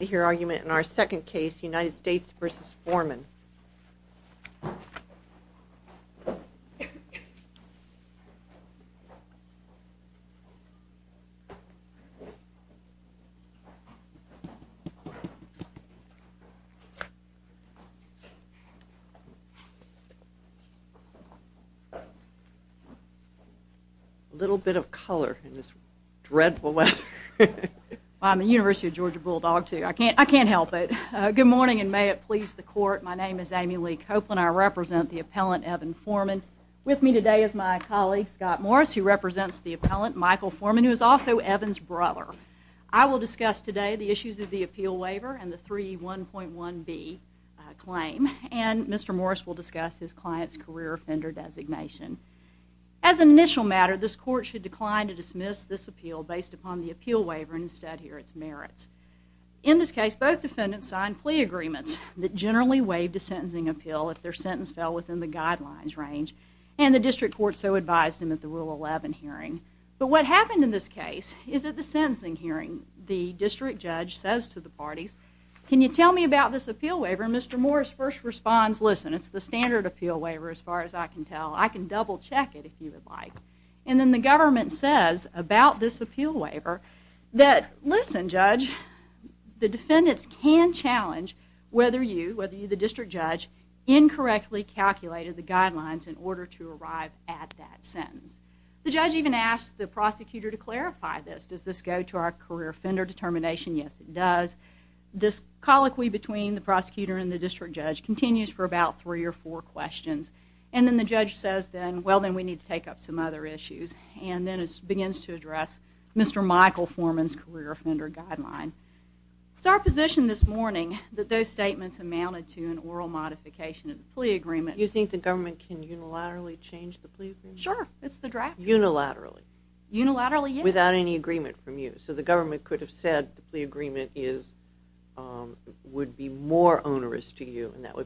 here argument in our second case United States v. Foreman little bit of color in this dreadful weather I'm a University of Georgia Bulldog too I can't I can't help it good morning and may it please the court my name is Amy Lee Copeland I represent the appellant Evan Foreman with me today is my colleague Scott Morris who represents the appellant Michael Foreman who is also Evans brother I will discuss today the issues of the appeal waiver and the 3 1.1 B claim and mr. Morris will discuss his clients career offender designation as an initial matter this court should decline to dismiss this appeal based upon the appeal waiver instead here it's merits in this case both defendants signed plea agreements that generally waived a sentencing appeal if their sentence fell within the guidelines range and the district court so advised him at the rule 11 hearing but what happened in this case is that the sentencing hearing the district judge says to the parties can you tell me about this appeal waiver mr. Morris first responds listen it's the standard appeal waiver as far as I can tell I can like and then the government says about this appeal waiver that listen judge the defendants can challenge whether you whether you the district judge incorrectly calculated the guidelines in order to arrive at that sentence the judge even asked the prosecutor to clarify this does this go to our career offender determination yes it does this colloquy between the prosecutor and the district judge continues for about three or four questions and then the judge says then well then we need to take up some other issues and then it begins to address mr. Michael Foreman's career offender guideline it's our position this morning that those statements amounted to an oral modification of the plea agreement you think the government can unilaterally change the plea sure it's the draft unilaterally unilaterally without any agreement from you so the government could have said the agreement is would be more onerous to you and that so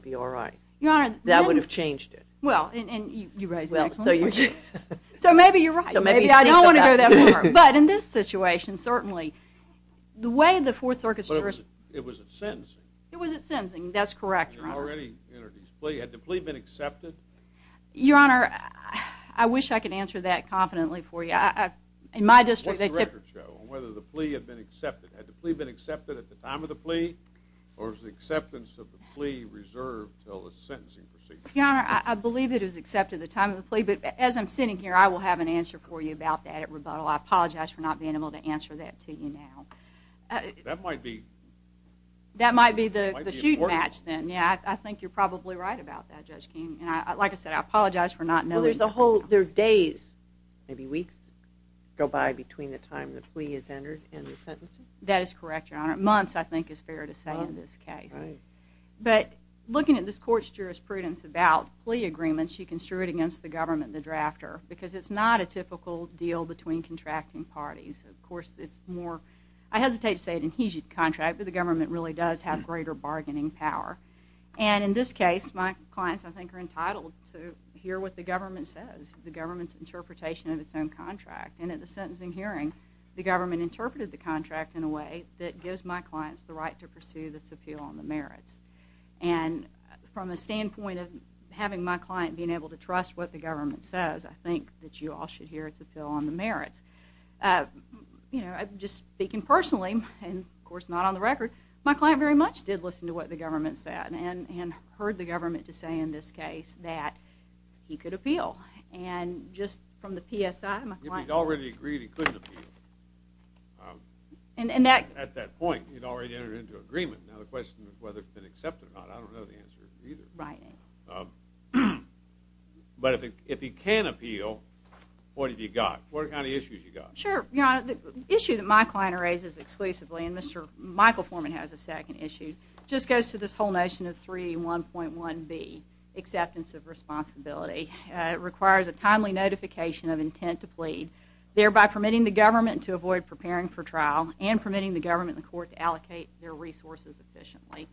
maybe you're right so maybe I don't want to go there but in this situation certainly the way the fourth orchestra it was it was it sensing that's correct already had the plea been accepted your honor I wish I could answer that confidently for you I in my district whether the plea had been accepted at the plea been accepted at the time of the plea or the acceptance of the plea I believe it is accepted the time of the plea but as I'm sitting here I will have an answer for you about that at rebuttal I apologize for not being able to answer that to you now that might be that might be the match then yeah I think you're probably right about that just came and I like I said I apologize for not knowing there's a whole their days maybe weeks go by between the time that we is entered in the sentence that is correct your honor months I think is but looking at this court's jurisprudence about plea agreements you construed against the government the drafter because it's not a typical deal between contracting parties of course it's more I hesitate to say an adhesion contract but the government really does have greater bargaining power and in this case my clients I think are entitled to hear what the government says the government's interpretation of its own contract and at the sentencing hearing the government interpreted the contract in a way that gives my clients the right to pursue this appeal on the merits and from a standpoint of having my client being able to trust what the government says I think that you all should hear it to fill on the merits you know I'm just speaking personally and of course not on the record my client very much did listen to what the government said and and heard the government to say in this case that he could appeal and just from the PSI my client already agreed he couldn't appeal and and that at that point you'd already entered into agreement now the question is whether it's been accepted or not I don't know the answer either right but if it if he can appeal what have you got what kind of issues you got sure yeah the issue that my client raises exclusively and mr. Michael Foreman has a second issue just goes to this whole notion of 3d 1.1 be acceptance of responsibility it requires a timely notification of intent to plead thereby permitting the government to avoid preparing for trial and permitting the government the court to allocate their resources efficiently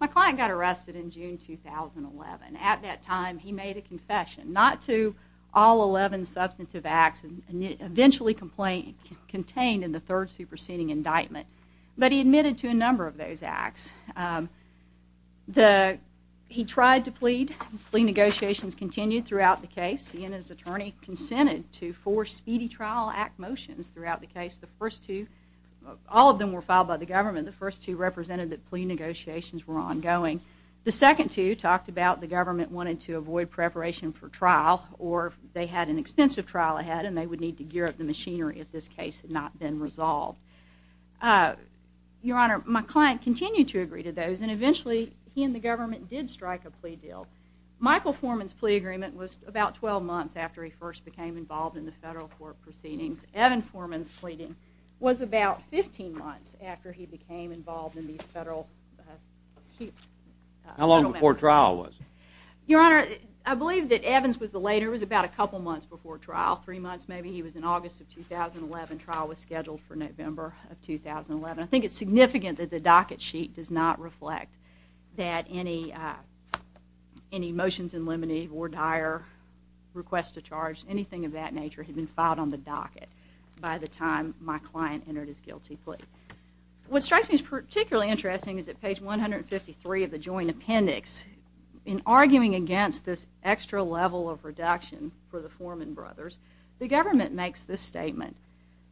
my client got arrested in June 2011 at that time he made a confession not to all 11 substantive acts and eventually complaint contained in the third superseding indictment but he admitted to a number of those acts the he tried to plead plea negotiations continued throughout the case he and his attorney consented to four speedy trial act motions throughout the case the first two all of them were filed by the government the first two represented that plea negotiations were ongoing the second two talked about the government wanted to avoid preparation for trial or they had an extensive trial ahead and they would need to gear up the machinery if this case had not been resolved your honor my client continued to agree to those and eventually he and the government did strike a plea deal Michael Foreman's plea agreement was about 12 months after he first became involved in the federal court proceedings Evan Foreman's pleading was about 15 months after he became involved in these federal how long before trial was your honor I believe that Evans was the later was about a couple months before trial three months maybe he was in August of 2011 trial was scheduled for November of 2011 I think it's significant that the docket sheet does not reflect that any any motions in limine or dire request to charge anything of that nature had been filed on the docket by the time my client entered his guilty plea what strikes me is particularly interesting is that page 153 of the joint appendix in arguing against this extra level of reduction for the Foreman brothers the government makes this statement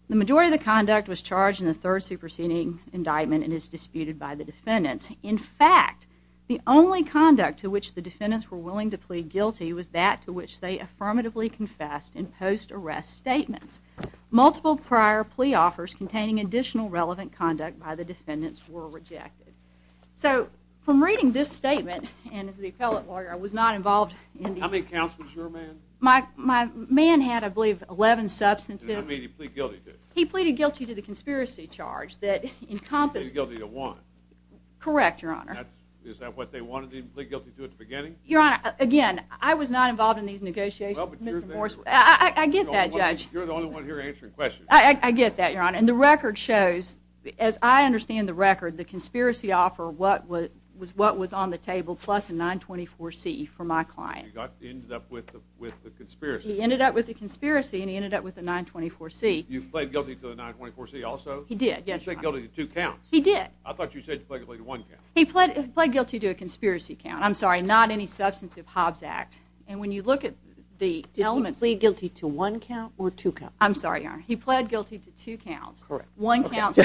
the majority of the conduct was charged in the third superseding indictment and is disputed by the defendants in fact the only conduct to which the defendants were willing to plead guilty was that to affirmatively confessed in post arrest statements multiple prior plea offers containing additional relevant conduct by the defendants were rejected so from reading this statement and as the appellate lawyer I was not involved in the accounts my my man had I believe 11 substantive he pleaded guilty to the conspiracy charge that encompass guilty to one correct your honor is that what they wanted to do at the beginning your honor again I was not involved in these negotiations I get that judge you're the only one here answering questions I get that your honor and the record shows as I understand the record the conspiracy offer what was what was on the table plus a 924 C for my client got ended up with with the conspiracy he ended up with the conspiracy and he ended up with a 924 C you played guilty to the 924 C also he did guilty to two counts he did I thought you said he played it played guilty to a conspiracy count I'm sorry not any substantive Hobbs Act and when you look at the elements we guilty to one count or two count I'm sorry he pled guilty to two counts one count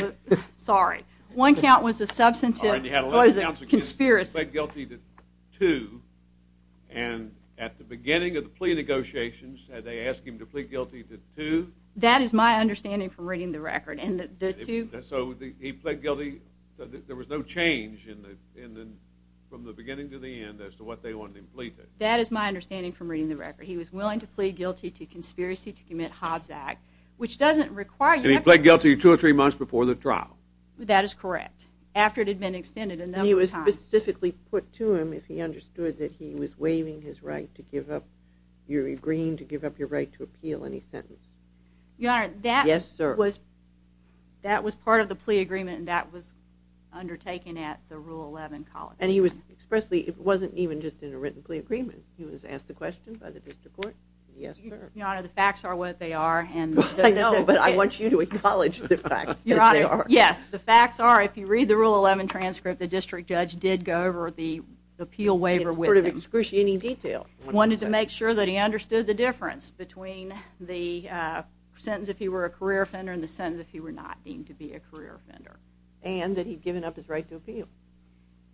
sorry one count was a substantive conspiracy guilty to and at the beginning of the plea negotiations had they asked him to plead guilty to two that is my understanding from reading the record and the two so the he no change in the in the from the beginning to the end as to what they wanted him pleaded that is my understanding from reading the record he was willing to plead guilty to conspiracy to commit Hobbs Act which doesn't require you play guilty two or three months before the trial that is correct after it had been extended and he was specifically put to him if he understood that he was waiving his right to give up your agreeing to give up your right to appeal any sentence yeah that yes sir was that was part of the plea agreement that was undertaken at the rule 11 college and he was expressly it wasn't even just in a written plea agreement he was asked the question by the district court yes the facts are what they are and I know but I want you to acknowledge the fact yes the facts are if you read the rule 11 transcript the district judge did go over the appeal waiver with him scrutiny detail wanted to make sure that he understood the difference between the sentence if he were a career offender in the sentence if he were not deemed to be a career offender and that he'd given up his right to appeal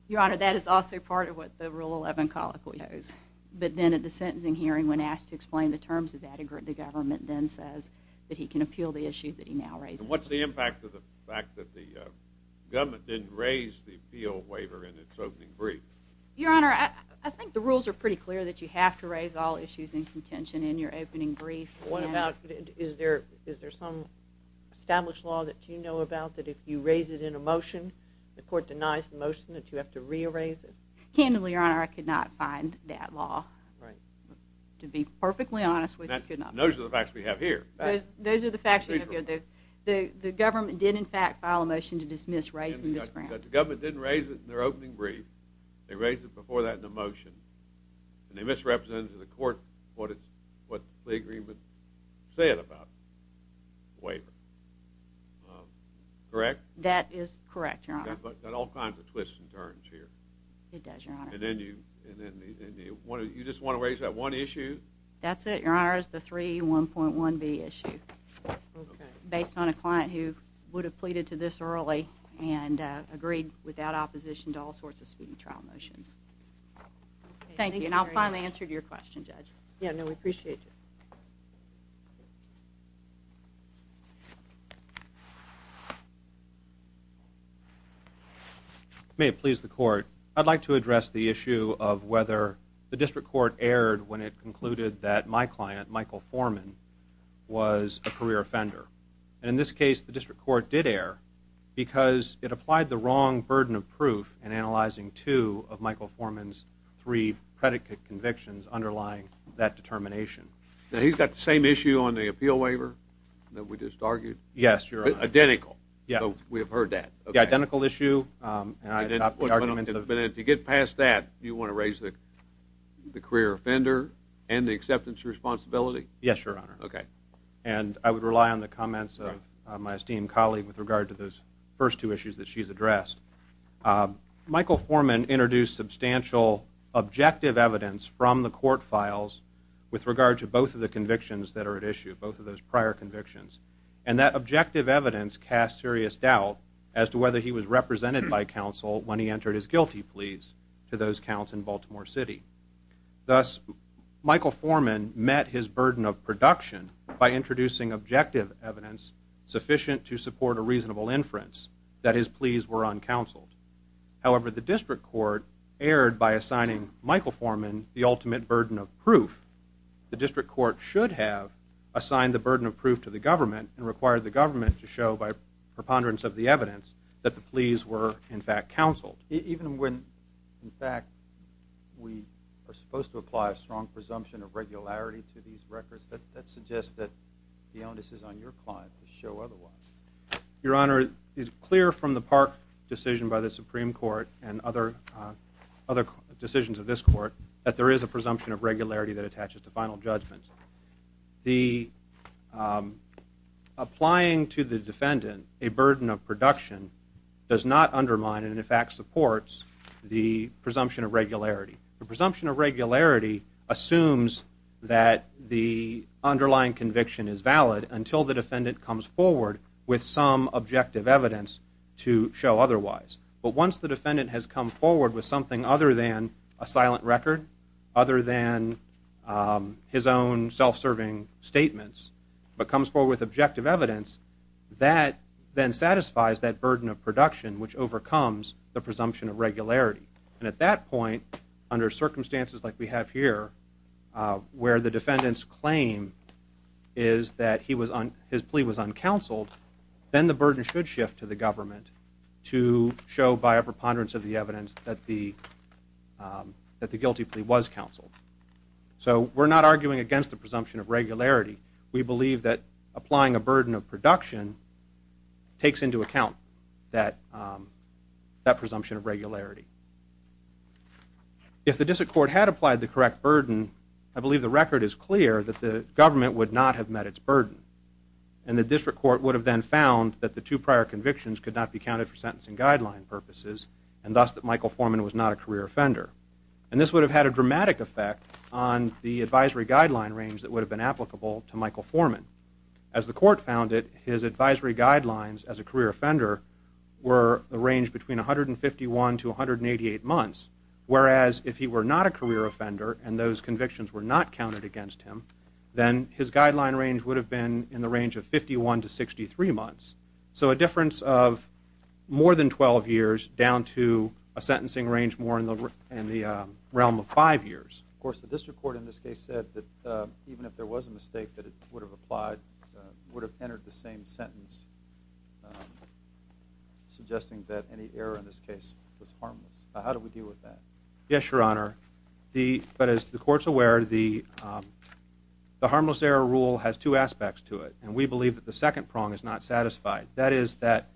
your honor that is also part of what the rule 11 colloquies but then at the sentencing hearing when asked to explain the terms of that agree the government then says that he can appeal the issue that he now raised what's the impact of the fact that the government didn't raise the appeal waiver in its opening brief your honor I think the rules are pretty clear that you have to raise all issues in contention in your opening brief what about is there is there some established law that you know about that if you raise it in a motion the court denies the motion that you have to rearrange it candidly your honor I could not find that law right to be perfectly honest with you know those are the facts we have here those are the fact that the government did in fact file a motion to dismiss raising the government didn't raise it in their opening brief they raised it before that in a motion and they misrepresented the court what it's agree but say it about waiver correct that is correct but all kinds of twists and turns here it does your honor and then you and then you just want to raise that one issue that's it your honor is the three 1.1 B issue based on a client who would have pleaded to this early and agreed without opposition to all sorts of speeding trial motions thank you and I'll finally answer to your question judge yeah no we appreciate may it please the court I'd like to address the issue of whether the district court aired when it concluded that my client Michael Foreman was a career offender and in this case the district court did air because it applied the wrong burden of proof and analyzing two of Michael convictions underlying that determination now he's got the same issue on the appeal waiver that we just argued yes you're identical yeah we have heard that the identical issue and I did not put arguments but if you get past that you want to raise the career offender and the acceptance responsibility yes your honor okay and I would rely on the comments of my esteemed colleague with regard to those first two issues that she's addressed Michael Foreman introduced substantial objective evidence from the court files with regard to both of the convictions that are at issue both of those prior convictions and that objective evidence cast serious doubt as to whether he was represented by counsel when he entered his guilty pleas to those counts in Baltimore City thus Michael Foreman met his burden of production by introducing objective evidence sufficient to support a reasonable inference that his pleas were uncounseled however the district court aired by assigning Michael Foreman the ultimate burden of proof the district court should have assigned the burden of proof to the government and required the government to show by preponderance of the evidence that the pleas were in fact counseled even when in fact we are supposed to apply a strong presumption of regularity to these records that suggests that the onus is on your client to show otherwise your decision by the Supreme Court and other other decisions of this court that there is a presumption of regularity that attaches to final judgment the applying to the defendant a burden of production does not undermine and in fact supports the presumption of regularity the presumption of regularity assumes that the underlying conviction is valid until the defendant comes forward with some otherwise but once the defendant has come forward with something other than a silent record other than his own self-serving statements but comes for with objective evidence that then satisfies that burden of production which overcomes the presumption of regularity and at that point under circumstances like we have here where the defendants claim is that he was on his plea was uncounseled then the burden should shift to the government to show by a preponderance of the evidence that the guilty plea was counseled so we're not arguing against the presumption of regularity we believe that applying a burden of production takes into account that that presumption of regularity if the district court had applied the correct burden I believe the record is and the district court would have been found that the two prior convictions could not be counted for sentencing guideline purposes and thus that Michael Foreman was not a career offender and this would have had a dramatic effect on the advisory guideline range that would have been applicable to Michael Foreman as the court found it his advisory guidelines as a career offender were arranged between 151 to 188 months whereas if he were not a career offender and those convictions were not counted against him then his guideline range would have been in the range of 51 to 63 months so a difference of more than 12 years down to a sentencing range more in the realm of five years of course the district court in this case said that even if there was a mistake that it would have applied would have entered the same sentence suggesting that any error in this case was harmless how do we deal with that yes your honor the but and we believe that the second prong is not satisfied that is that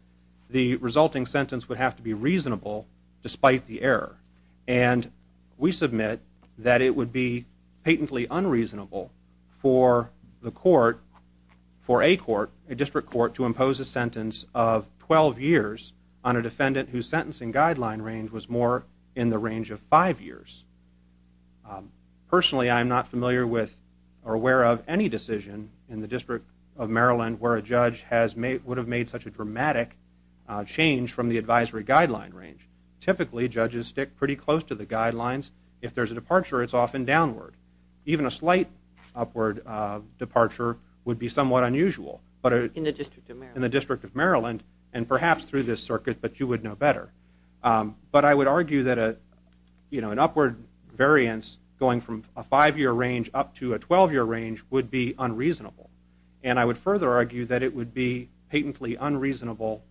the resulting sentence would have to be reasonable despite the error and we submit that it would be patently unreasonable for the court for a court a district court to impose a sentence of 12 years on a defendant whose sentencing guideline range was more in the range of five years personally I'm not familiar with or aware of any decision in the district of Maryland where a judge has made would have made such a dramatic change from the advisory guideline range typically judges stick pretty close to the guidelines if there's a departure it's often downward even a slight upward departure would be somewhat unusual but in the district in the district of Maryland and perhaps through this circuit but you would know better but I would argue that a you know an upward variance going from a five-year range up to a 12-year range would be unreasonable and I would further argue that it would be patently unreasonable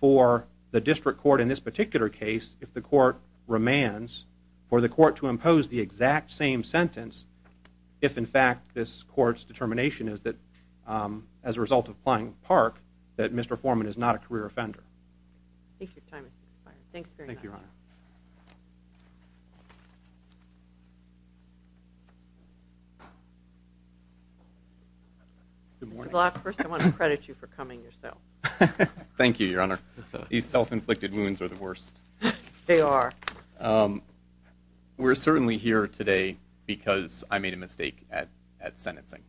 for the district court in this particular case if the court remands for the court to impose the exact same sentence if in fact this courts determination is that as a result of playing park that mr. Foreman is not a first I want to credit you for coming yourself thank you your honor these self-inflicted wounds are the worst they are we're certainly here today because I made a mistake at at sentencing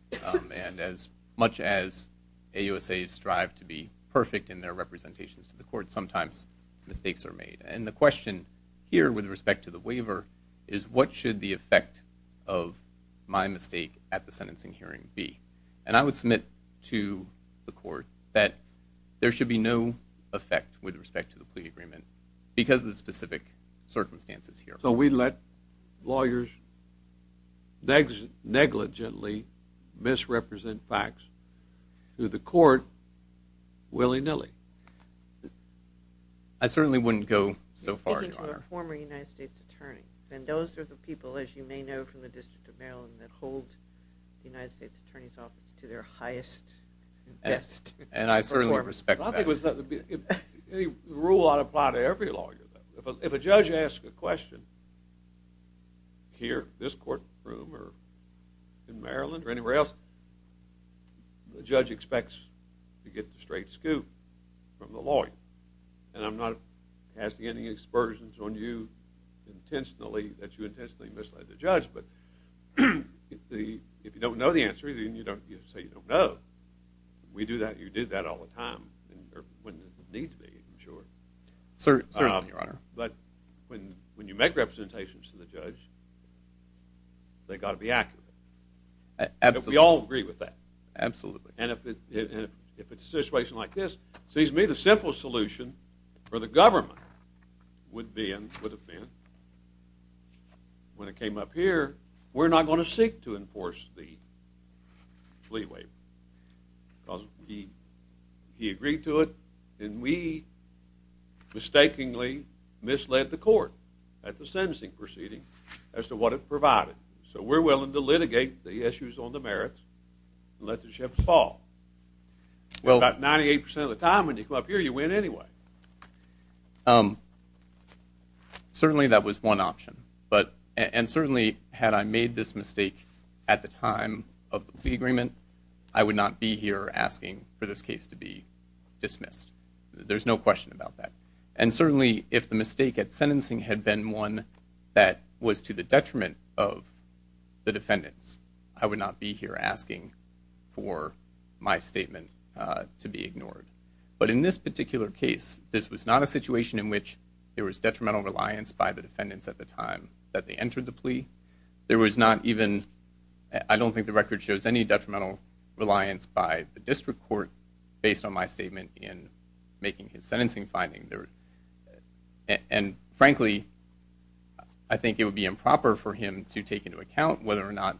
and as much as a USA strive to be perfect in their representations to the court sometimes mistakes are made and the what should the effect of my mistake at the sentencing hearing be and I would submit to the court that there should be no effect with respect to the plea agreement because of the specific circumstances here so we let lawyers negligently misrepresent facts to the court willy-nilly I certainly wouldn't go so far former United States attorney and those are the people as you may know from the District of Maryland that hold the United States Attorney's Office to their highest and I certainly respect I think was that the rule ought to apply to every lawyer if a judge asked a question here this courtroom or in Maryland or anywhere else the judge expects to get the straight scoop from the lawyer and I'm not asking any expersions on you intentionally that you intentionally misled the judge but the if you don't know the answer then you don't you say you don't know we do that you did that all the time sure sir but when when you make representations to the judge they got to be accurate absolutely all agree with that absolutely and if it if it's a yes sees me the simple solution for the government would be in would have been when it came up here we're not going to seek to enforce the plea waiver because he he agreed to it and we mistakenly misled the court at the sentencing proceeding as to what it provided so we're willing to litigate the issues on the merits let the ship fall well about 98% of the time when you go up here you win anyway certainly that was one option but and certainly had I made this mistake at the time of the agreement I would not be here asking for this case to be dismissed there's no question about that and certainly if the mistake at sentencing had been one that was to the detriment of the defendants I would not be here asking for my statement to be ignored but in this particular case this was not a situation in which there was detrimental reliance by the defendants at the time that they entered the plea there was not even I don't think the record shows any detrimental reliance by the district court based on my statement in making his sentencing finding there and frankly I think it would be improper for him to take into account whether or not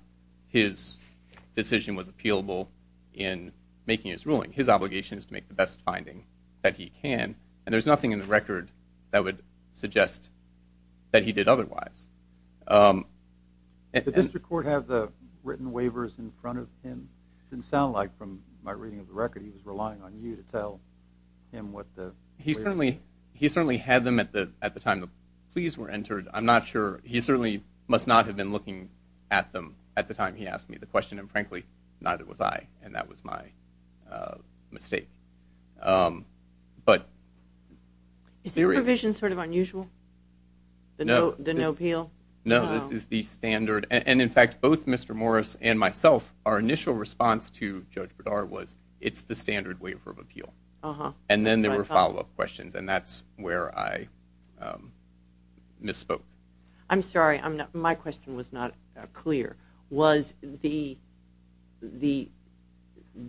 his decision was appealable in making his ruling his obligation is to make the best finding that he can and there's nothing in the record that would suggest that he did otherwise record have the written waivers in front of him didn't sound like from my reading of the record he was relying on you to tell him what he certainly he certainly had them at the at the time the pleas were entered I'm not sure he certainly must not have been looking at them at the time he asked me the question and frankly neither was I and that was my mistake but the revision sort of unusual no no no no this is the standard and in fact both Mr. Morris and myself our initial response to judge Bradar was it's the standard waiver of appeal and then there were follow-up questions and that's where I misspoke I'm sorry I'm not my question was not clear was the the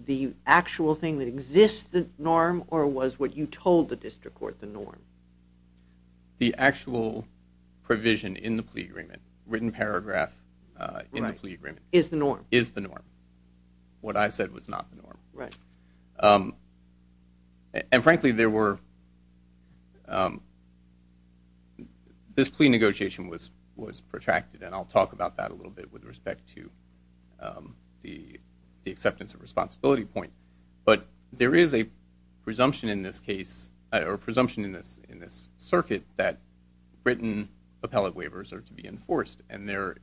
the actual thing that exists the norm or was what you told the district court the norm the actual provision in the plea agreement written paragraph is the norm is the norm what I said was not the norm right and frankly there were this plea negotiation was was protracted and I'll talk about that a little bit with respect to the the acceptance of responsibility point but there is a presumption in this case or presumption in this in this circuit that written appellate waivers are to be enforced and there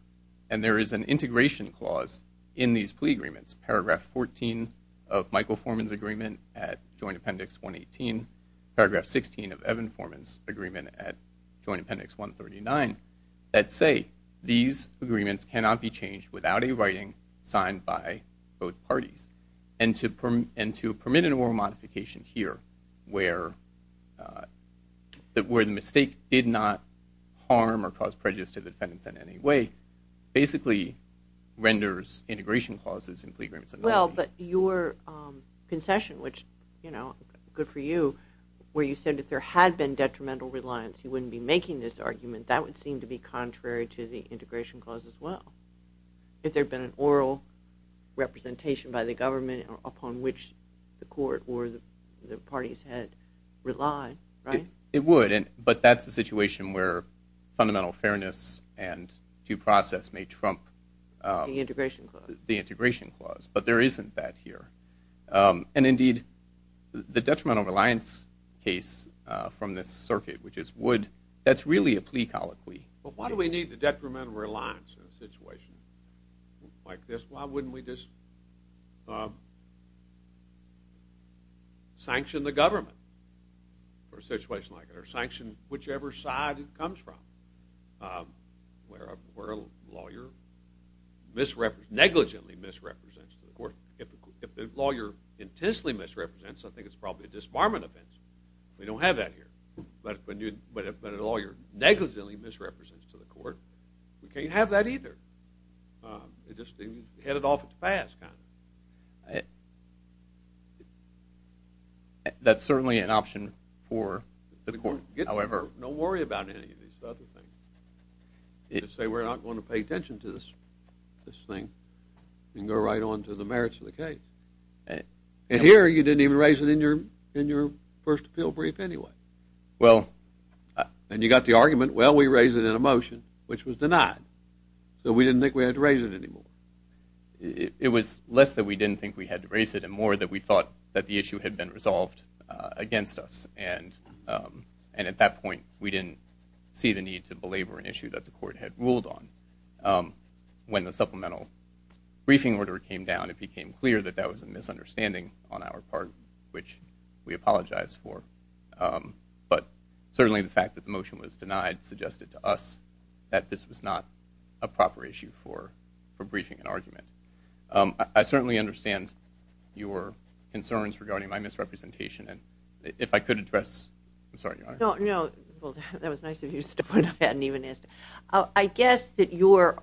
and there is an integration clause in these plea agreements paragraph 14 of Michael Forman's agreement at Joint Appendix 118 paragraph 16 of Evan Forman's agreement at Joint Appendix 139 that say these agreements cannot be changed without a writing signed by both parties and to permit and to permit an oral modification here where that where the mistake did not harm or cause prejudice to the defendants in any way basically renders integration clauses in plea agreements well but your concession which you know good for you where you said if there had been detrimental reliance you wouldn't be making this argument that would seem to be contrary to the integration clause as well if there'd been an oral representation by the government upon which the court or the parties had relied right it would but that's the situation where fundamental fairness and due process may trump the integration clause but there isn't that here and indeed the detrimental reliance case from this circuit which is would that's really a plea colloquy but why do we need the detrimental reliance in a situation like this why wouldn't we just sanction the government for a situation like it or whichever side it comes from where a lawyer misrepresents negligently misrepresents the court if the lawyer intensely misrepresents I think it's probably a disbarment offense we don't have that here but when you but if a lawyer negligently misrepresents to the court we can't have that either just however don't worry about it say we're not going to pay attention to this this thing and go right on to the merits of the case and here you didn't even raise it in your in your first appeal brief anyway well and you got the argument well we raised it in a motion which was denied so we didn't think we had to raise it anymore it was less that we didn't think we had to raise it and more that we thought that the issue had been resolved against us and and at that point we didn't see the need to belabor an issue that the court had ruled on when the supplemental briefing order came down it became clear that that was a misunderstanding on our part which we apologize for but certainly the fact that the motion was denied suggested to us that this was not a proper issue for concerns regarding my misrepresentation and if I could address I'm sorry no no that was nice of you to stop I hadn't even asked I guess that your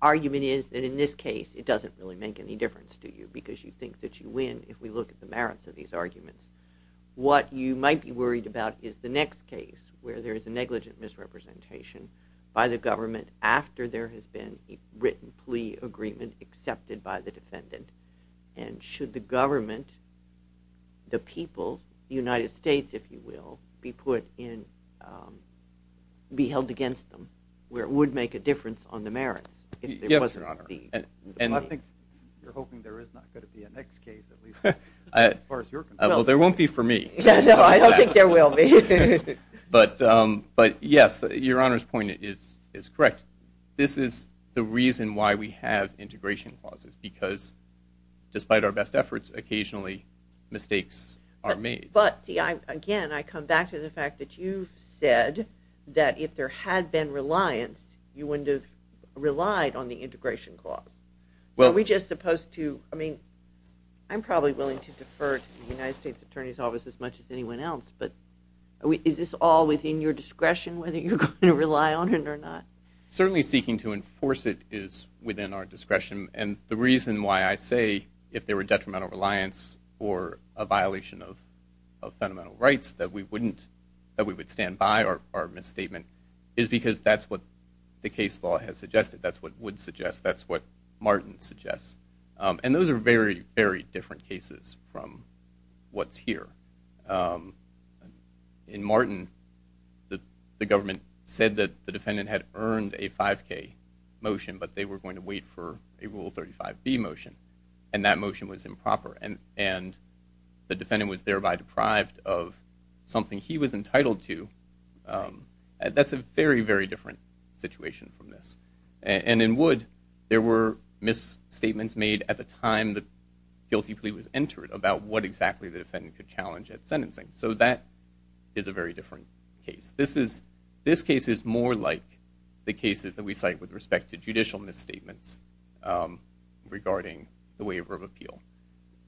argument is that in this case it doesn't really make any difference to you because you think that you win if we look at the merits of these arguments what you might be worried about is the next case where there is a negligent misrepresentation by the government after there has been a written plea agreement accepted by the government the people United States if you will be put in be held against them where it would make a difference on the merits there won't be for me but but yes your honor's point is is correct this is the reason why we have because despite our best efforts occasionally mistakes are made but see I again I come back to the fact that you said that if there had been reliance you wouldn't have relied on the integration clause well we just supposed to I mean I'm probably willing to defer to the United States Attorney's Office as much as anyone else but is this all within your discretion whether you're going to rely on it or not certainly seeking to enforce it is within our discretion the reason why I say if there were detrimental reliance or a violation of fundamental rights that we wouldn't that we would stand by our misstatement is because that's what the case law has suggested that's what would suggest that's what Martin suggests and those are very very different cases from what's here in Martin the government said that the defendant had earned a 5k motion but they were going to wait for a rule 35 B motion and that motion was improper and and the defendant was thereby deprived of something he was entitled to that's a very very different situation from this and in wood there were misstatements made at the time the guilty plea was entered about what exactly the defendant could challenge at sentencing so that is a very different case this is this case is more like the cases that we cite with respect to judicial misstatements regarding the waiver of appeal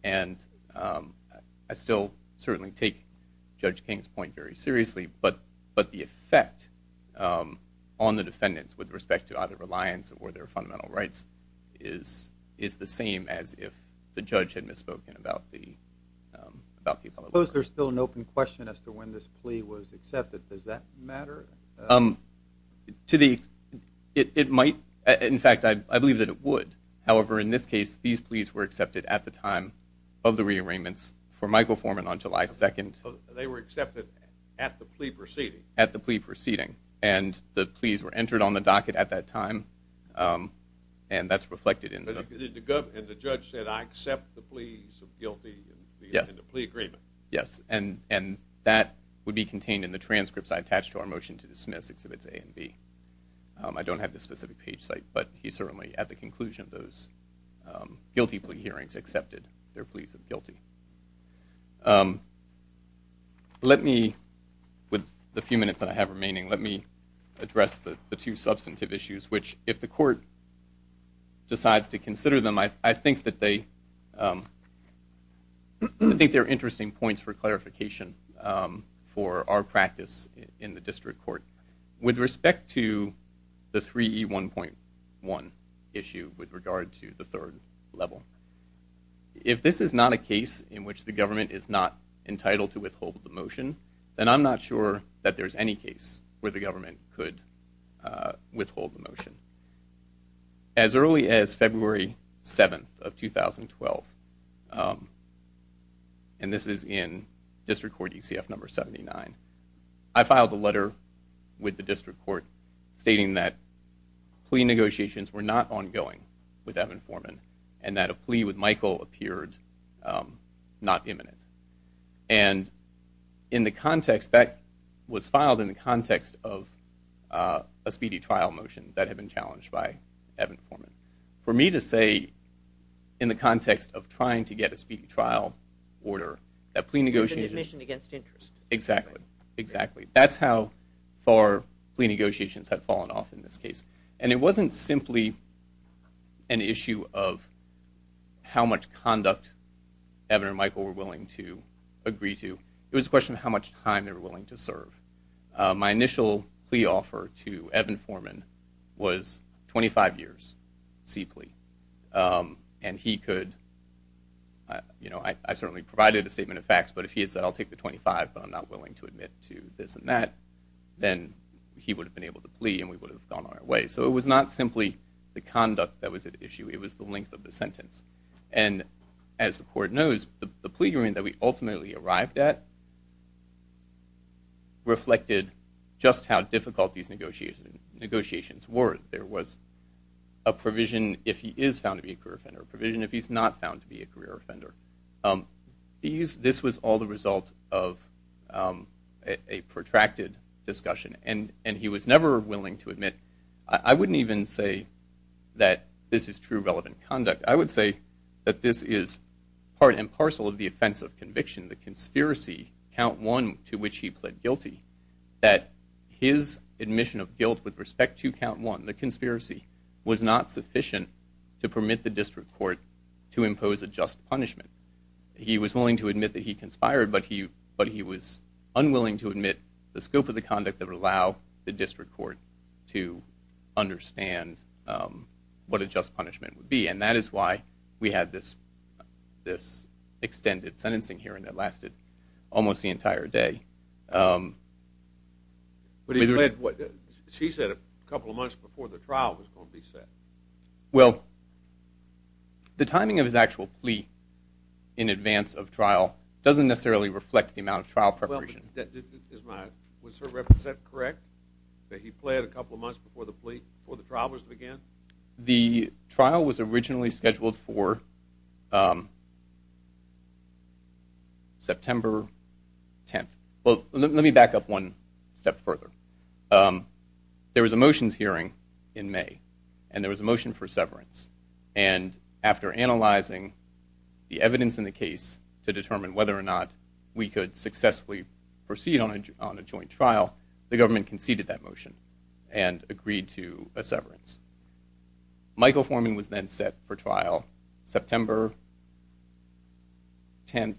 and I still certainly take Judge King's point very seriously but but the effect on the defendants with respect to either reliance or their fundamental rights is is the same as if the judge had misspoken about the about the suppose there's still an open question as to does that matter to the it might in fact I believe that it would however in this case these pleas were accepted at the time of the rearrangements for Michael Foreman on July 2nd they were accepted at the plea proceeding at the plea proceeding and the pleas were entered on the docket at that time and that's reflected in the government the judge said I accept the pleas guilty yes the agreement yes and and that would be contained in the transcripts I attached to our motion to dismiss exhibits a and B I don't have this specific page site but he certainly at the conclusion of those guilty plea hearings accepted their pleas of guilty let me with the few minutes that I have remaining let me address the two substantive issues which if the court decides to consider them I think that they I think they're interesting points for clarification for our practice in the district court with respect to the 3e 1.1 issue with regard to the third level if this is not a case in which the government is not entitled to withhold the motion then I'm not sure that there's any case where the of 2012 and this is in district court ECF number 79 I filed a letter with the district court stating that plea negotiations were not ongoing with Evan Foreman and that a plea with Michael appeared not imminent and in the context that was filed in the context of a speedy trial motion that had been in the context of trying to get a speedy trial order that plea negotiation against interest exactly exactly that's how far plea negotiations had fallen off in this case and it wasn't simply an issue of how much conduct Evan or Michael were willing to agree to it was a question of how much time they were and he could you know I certainly provided a statement of facts but if he had said I'll take the 25 but I'm not willing to admit to this and that then he would have been able to plea and we would have gone our way so it was not simply the conduct that was at issue it was the length of the sentence and as the court knows the plea hearing that we ultimately arrived at reflected just how difficult these negotiations negotiations were there was a provision if he is found to be a career offender provision if he's not found to be a career offender these this was all the result of a protracted discussion and and he was never willing to admit I wouldn't even say that this is true relevant conduct I would say that this is part and parcel of the offense of admission of guilt with respect to count one the conspiracy was not sufficient to permit the district court to impose a just punishment he was willing to admit that he conspired but he but he was unwilling to admit the scope of the conduct that would allow the district court to understand what a just punishment would be and that is why we had this this extended sentencing hearing that lasted almost the entire day but he read what she said a couple of months before the trial was going to be set well the timing of his actual plea in advance of trial doesn't necessarily reflect the amount of trial preparation that is my was her represent correct that he played a couple of months before the plea for the travelers began the trial was originally scheduled for September 10th well let me back up one step further there was a motions hearing in May and there was a motion for severance and after analyzing the evidence in the case to determine whether or not we could successfully proceed on a joint trial the government conceded that motion and agreed to a September 10th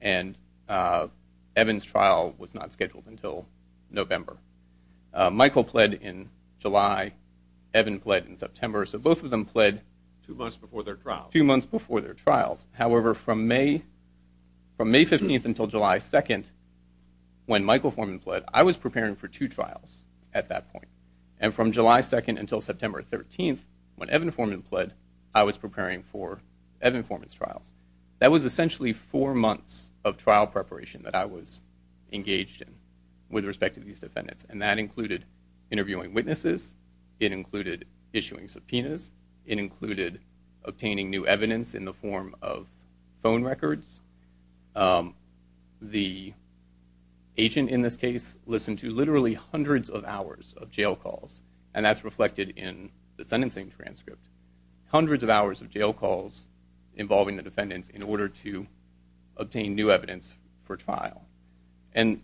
and Evans trial was not scheduled until November Michael pled in July Evan pled in September so both of them pled too much before their trial few months before their trials however from May from May 15th until July 2nd when Michael Forman pled I was preparing for two trials at that point and from July 2nd until September 13th when Evan Forman pled I was preparing for Evan Forman's trials that was essentially four months of trial preparation that I was engaged in with respect to these defendants and that included interviewing witnesses it included issuing subpoenas it included obtaining new evidence in the form of phone records the agent in this case listened to literally hundreds of hours of jail calls and that's reflected in the sentencing transcript hundreds of hours of jail calls involving the defendants in order to obtain new evidence for trial and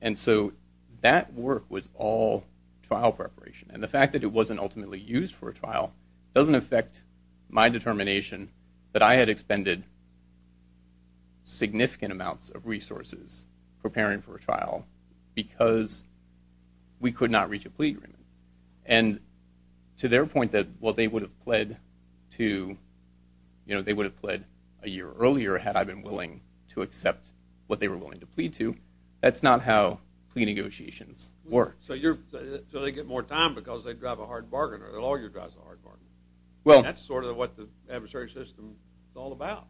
and so that work was all trial preparation and the fact that it wasn't ultimately used for a trial doesn't affect my determination that I had expended significant amounts of trial because we could not reach a plea agreement and to their point that well they would have pled to you know they would have pled a year earlier had I've been willing to accept what they were willing to plead to that's not how plea negotiations work so you're so they get more time because they'd drive a hard bargain or their lawyer drives a hard bargain well that's sort of what the adversary system is all about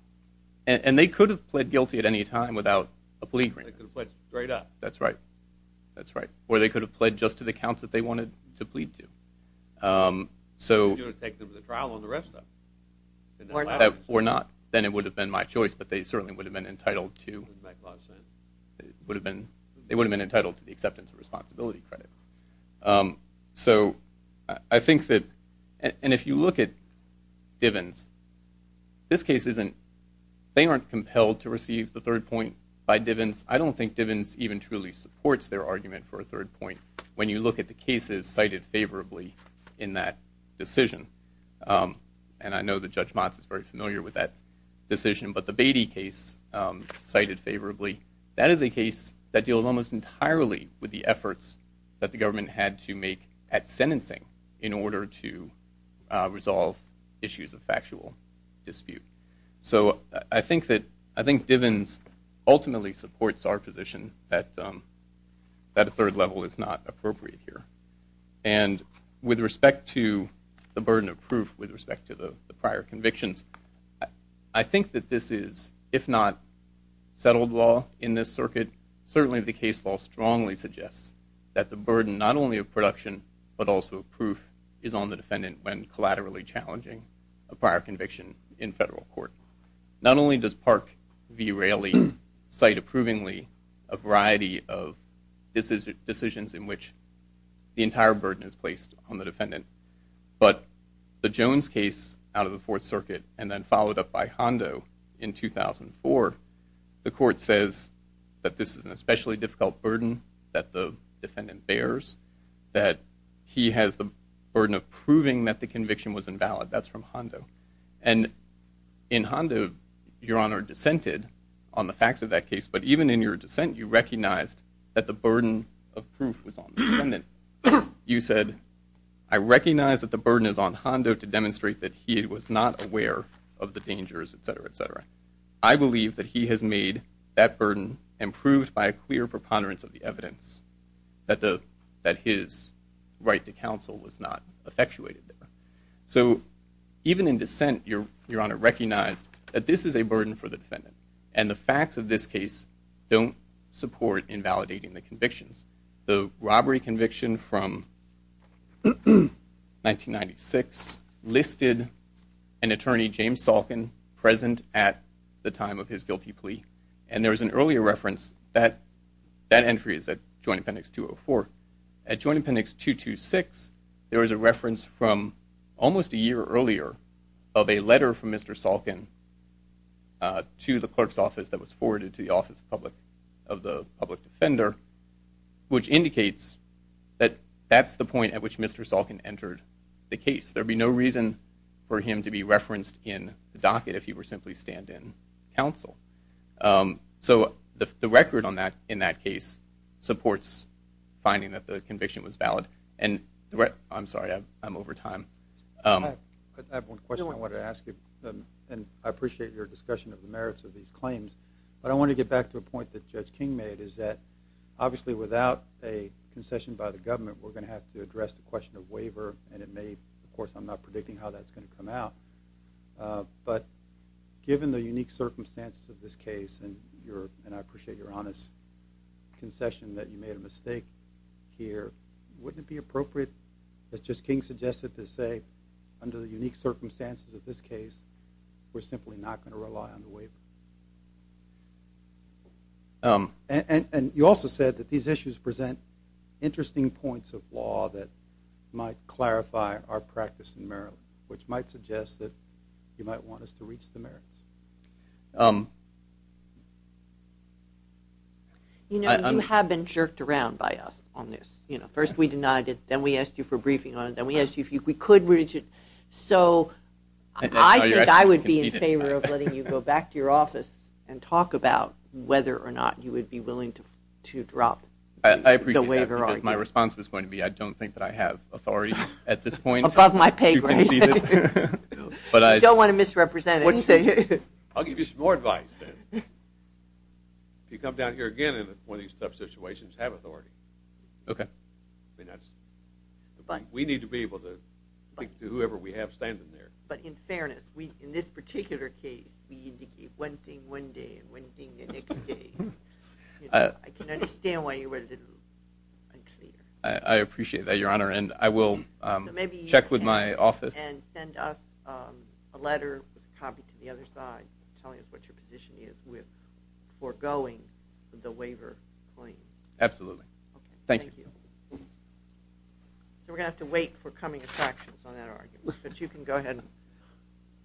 and they could have pled guilty at any time without a plea agreement that's right that's right where they could have pled just to the counts that they wanted to plead to so or not then it would have been my choice but they certainly would have been entitled to would have been they would have been entitled to the acceptance of responsibility credit so I think that and if you look at Diven's this case isn't they aren't compelled to by Diven's I don't think Diven's even truly supports their argument for a third point when you look at the cases cited favorably in that decision and I know the judge Motz is very familiar with that decision but the Beatty case cited favorably that is a case that deal almost entirely with the efforts that the government had to make at sentencing in order to resolve issues of factual dispute so I think that I think Diven's ultimately supports our position that that a third level is not appropriate here and with respect to the burden of proof with respect to the prior convictions I think that this is if not settled law in this circuit certainly the case law strongly suggests that the burden not only of production but also proof is on the defendant when collaterally challenging a prior conviction in federal court not only does Park v. Raley cite approvingly a variety of this is decisions in which the entire burden is placed on the defendant but the Jones case out of the Fourth Circuit and then followed up by Hondo in 2004 the court says that this is an especially difficult burden that the defendant bears that he has the conviction was invalid that's from Hondo and in Hondo your honor dissented on the facts of that case but even in your dissent you recognized that the burden of proof was on the defendant you said I recognize that the burden is on Hondo to demonstrate that he was not aware of the dangers etc etc I believe that he has made that burden improved by a clear preponderance of the evidence that the that his right to counsel was not effectuated there so even in dissent your your honor recognized that this is a burden for the defendant and the facts of this case don't support invalidating the convictions the robbery conviction from 1996 listed an attorney James Salkin present at the time of his appendix 204 at Joint Appendix 226 there is a reference from almost a year earlier of a letter from mr. Salkin to the clerk's office that was forwarded to the office of public of the public defender which indicates that that's the point at which mr. Salkin entered the case there'd be no reason for him to be referenced in the docket if he were simply stand-in counsel so the record on that in that case supports finding that the conviction was valid and I'm sorry I'm over time I want to ask you and I appreciate your discussion of the merits of these claims but I want to get back to a point that judge King made is that obviously without a concession by the government we're gonna have to address the question of waiver and it may of course I'm not predicting how that's going to come out but given the unique circumstances of this case and and I appreciate your honest concession that you made a mistake here wouldn't it be appropriate that just King suggested to say under the unique circumstances of this case we're simply not going to rely on the waiver and you also said that these issues present interesting points of law that might clarify our practice in Maryland which might suggest that you might want us to you know you have been jerked around by us on this you know first we denied it then we asked you for briefing on it then we asked you if you could reach it so I think I would be in favor of letting you go back to your office and talk about whether or not you would be willing to drop the waiver my response was going to be I don't think that I have authority at this point of my pay but I don't want to misrepresent anything I'll give you some more advice if you come down here again in one of these tough situations have authority okay that's fine we need to be able to thank you whoever we have standing there but in fairness we in this particular case I appreciate that your honor and I a letter copy to the other side telling us what your position is with for going with the waiver absolutely thank you we're gonna have to wait for coming attractions on that argument but you can go ahead and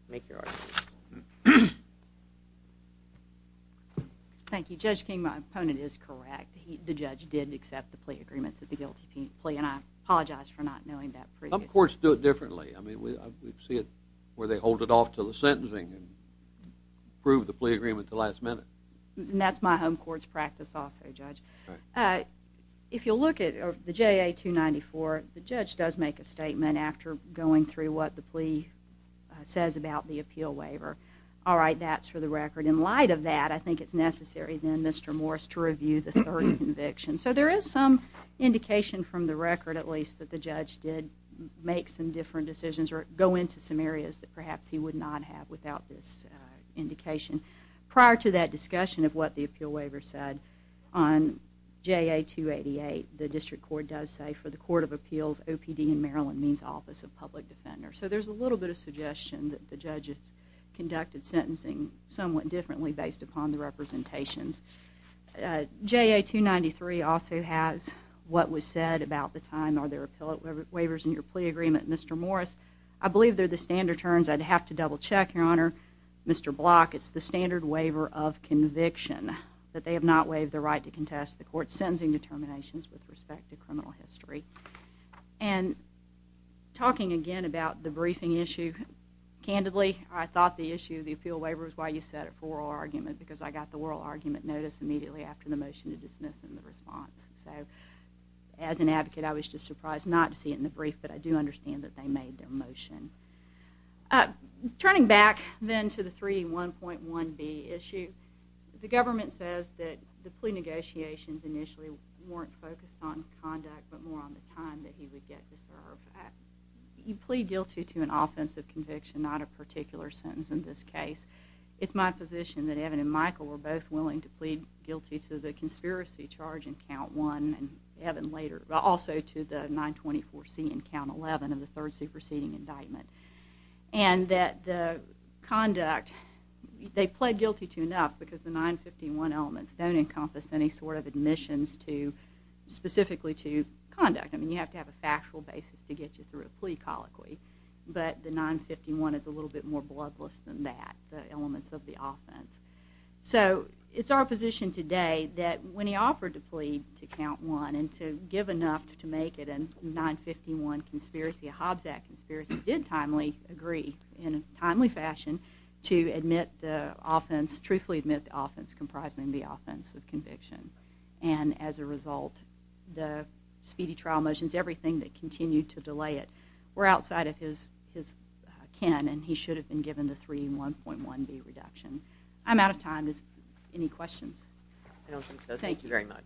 make your argument thank you judge King my opponent is correct the judge did accept the plea agreements at the guilty plea and I apologize for not knowing that of course do it differently I mean we see it where they hold it off to the sentencing and prove the plea agreement the last minute and that's my home courts practice also judge if you look at the JA 294 the judge does make a statement after going through what the plea says about the appeal waiver all right that's for the record in light of that I think it's necessary then mr. Morris to review the third conviction so there is some indication from the record at least that the judge did make some different decisions or go into some areas that perhaps he would not have without this indication prior to that discussion of what the appeal waiver said on JA 288 the district court does say for the Court of Appeals OPD in Maryland means Office of Public Defender so there's a little bit of suggestion that the judges conducted sentencing somewhat differently based upon the representations JA 293 also has what was said about the time are there appellate waivers in your plea agreement mr. Morris I believe they're the standard terms I'd have to double-check your honor mr. block it's the standard waiver of conviction that they have not waived the right to contest the court sentencing determinations with respect to criminal history and talking again about the briefing issue candidly I thought the issue of the appeal waiver is why you set it for oral argument because I got the oral argument notice immediately after the motion to dismiss response so as an advocate I was just surprised not to see it in the brief but I do understand that they made their motion turning back then to the 3 1.1 B issue the government says that the plea negotiations initially weren't focused on conduct but more on the time that he would get to serve you plead guilty to an offensive conviction not a particular sentence in this case it's my position that Evan and Michael were both willing to plead guilty to the conspiracy charge in count one and Evan later but also to the 924 C and count 11 of the third superseding indictment and that the conduct they pled guilty to enough because the 951 elements don't encompass any sort of admissions to specifically to conduct I mean you have to have a factual basis to get you through a plea colloquy but the 951 is a little bit more bloodless than that the elements of the offense so it's our position today that when he offered to plead to count one and to give enough to make it in 951 conspiracy a Hobbs Act conspiracy did timely agree in a timely fashion to admit the offense truthfully admit the offense comprising the offense of conviction and as a result the speedy trial motions everything that continued to delay it we're outside of his his can and he should have been given the three 1.1 B reduction I'm out of time is any questions thank you very much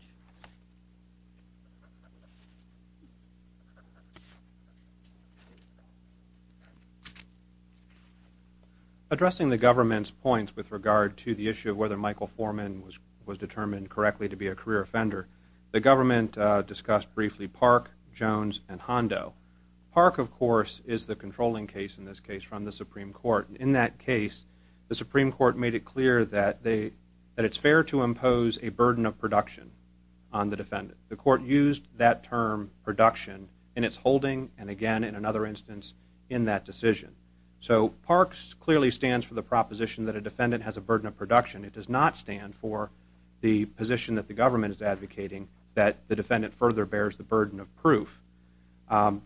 addressing the government's points with regard to the issue of whether Michael Foreman was was determined correctly to be a career offender the government discussed briefly Park Jones and Hondo Park of course is the controlling case in this case from the Supreme Court in that case the Supreme Court made it clear that they that it's fair to impose a burden of production on the defendant the court used that term production in its holding and again in another instance in that decision so parks clearly stands for the proposition that a defendant has a burden of production it does not stand for the position that the government is advocating that the defendant further bears the burden of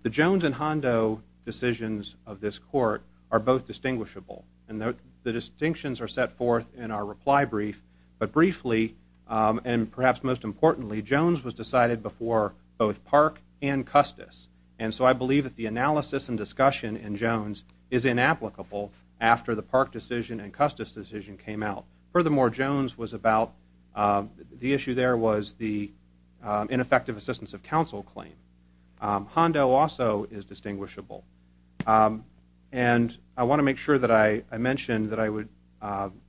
the Jones and Hondo decisions of this court are both distinguishable and that the distinctions are set forth in our reply brief but briefly and perhaps most importantly Jones was decided before both Park and Custis and so I believe that the analysis and discussion in Jones is inapplicable after the Park decision and Custis decision came out furthermore Jones was about the issue there was the ineffective assistance of counsel claim Hondo also is distinguishable and I want to make sure that I mentioned that I would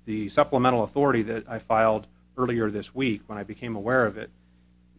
the supplemental authority that I filed earlier this week when I became aware of it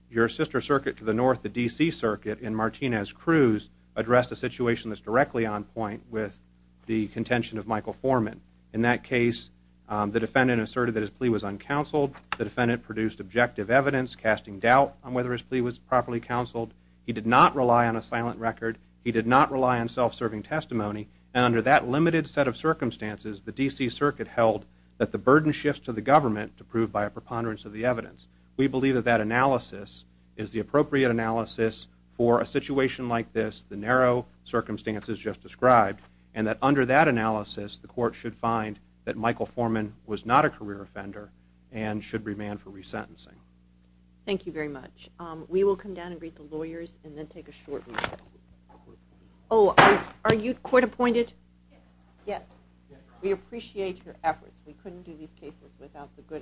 your sister circuit to the north the DC circuit in Martinez Cruz addressed a situation that's directly on point with the contention of Michael Foreman in that case the defendant asserted that plea was uncounseled the defendant produced objective evidence casting doubt on whether his plea was properly counseled he did not rely on a silent record he did not rely on self-serving testimony and under that limited set of circumstances the DC Circuit held that the burden shifts to the government to prove by a preponderance of the evidence we believe that that analysis is the appropriate analysis for a situation like this the narrow circumstances just described and that under that analysis the court should find that Michael Foreman was not a career offender and should be banned for resentencing thank you very much we will come down and greet the lawyers and then take a short oh are you court-appointed yes we appreciate your efforts we couldn't do these cases without the good effort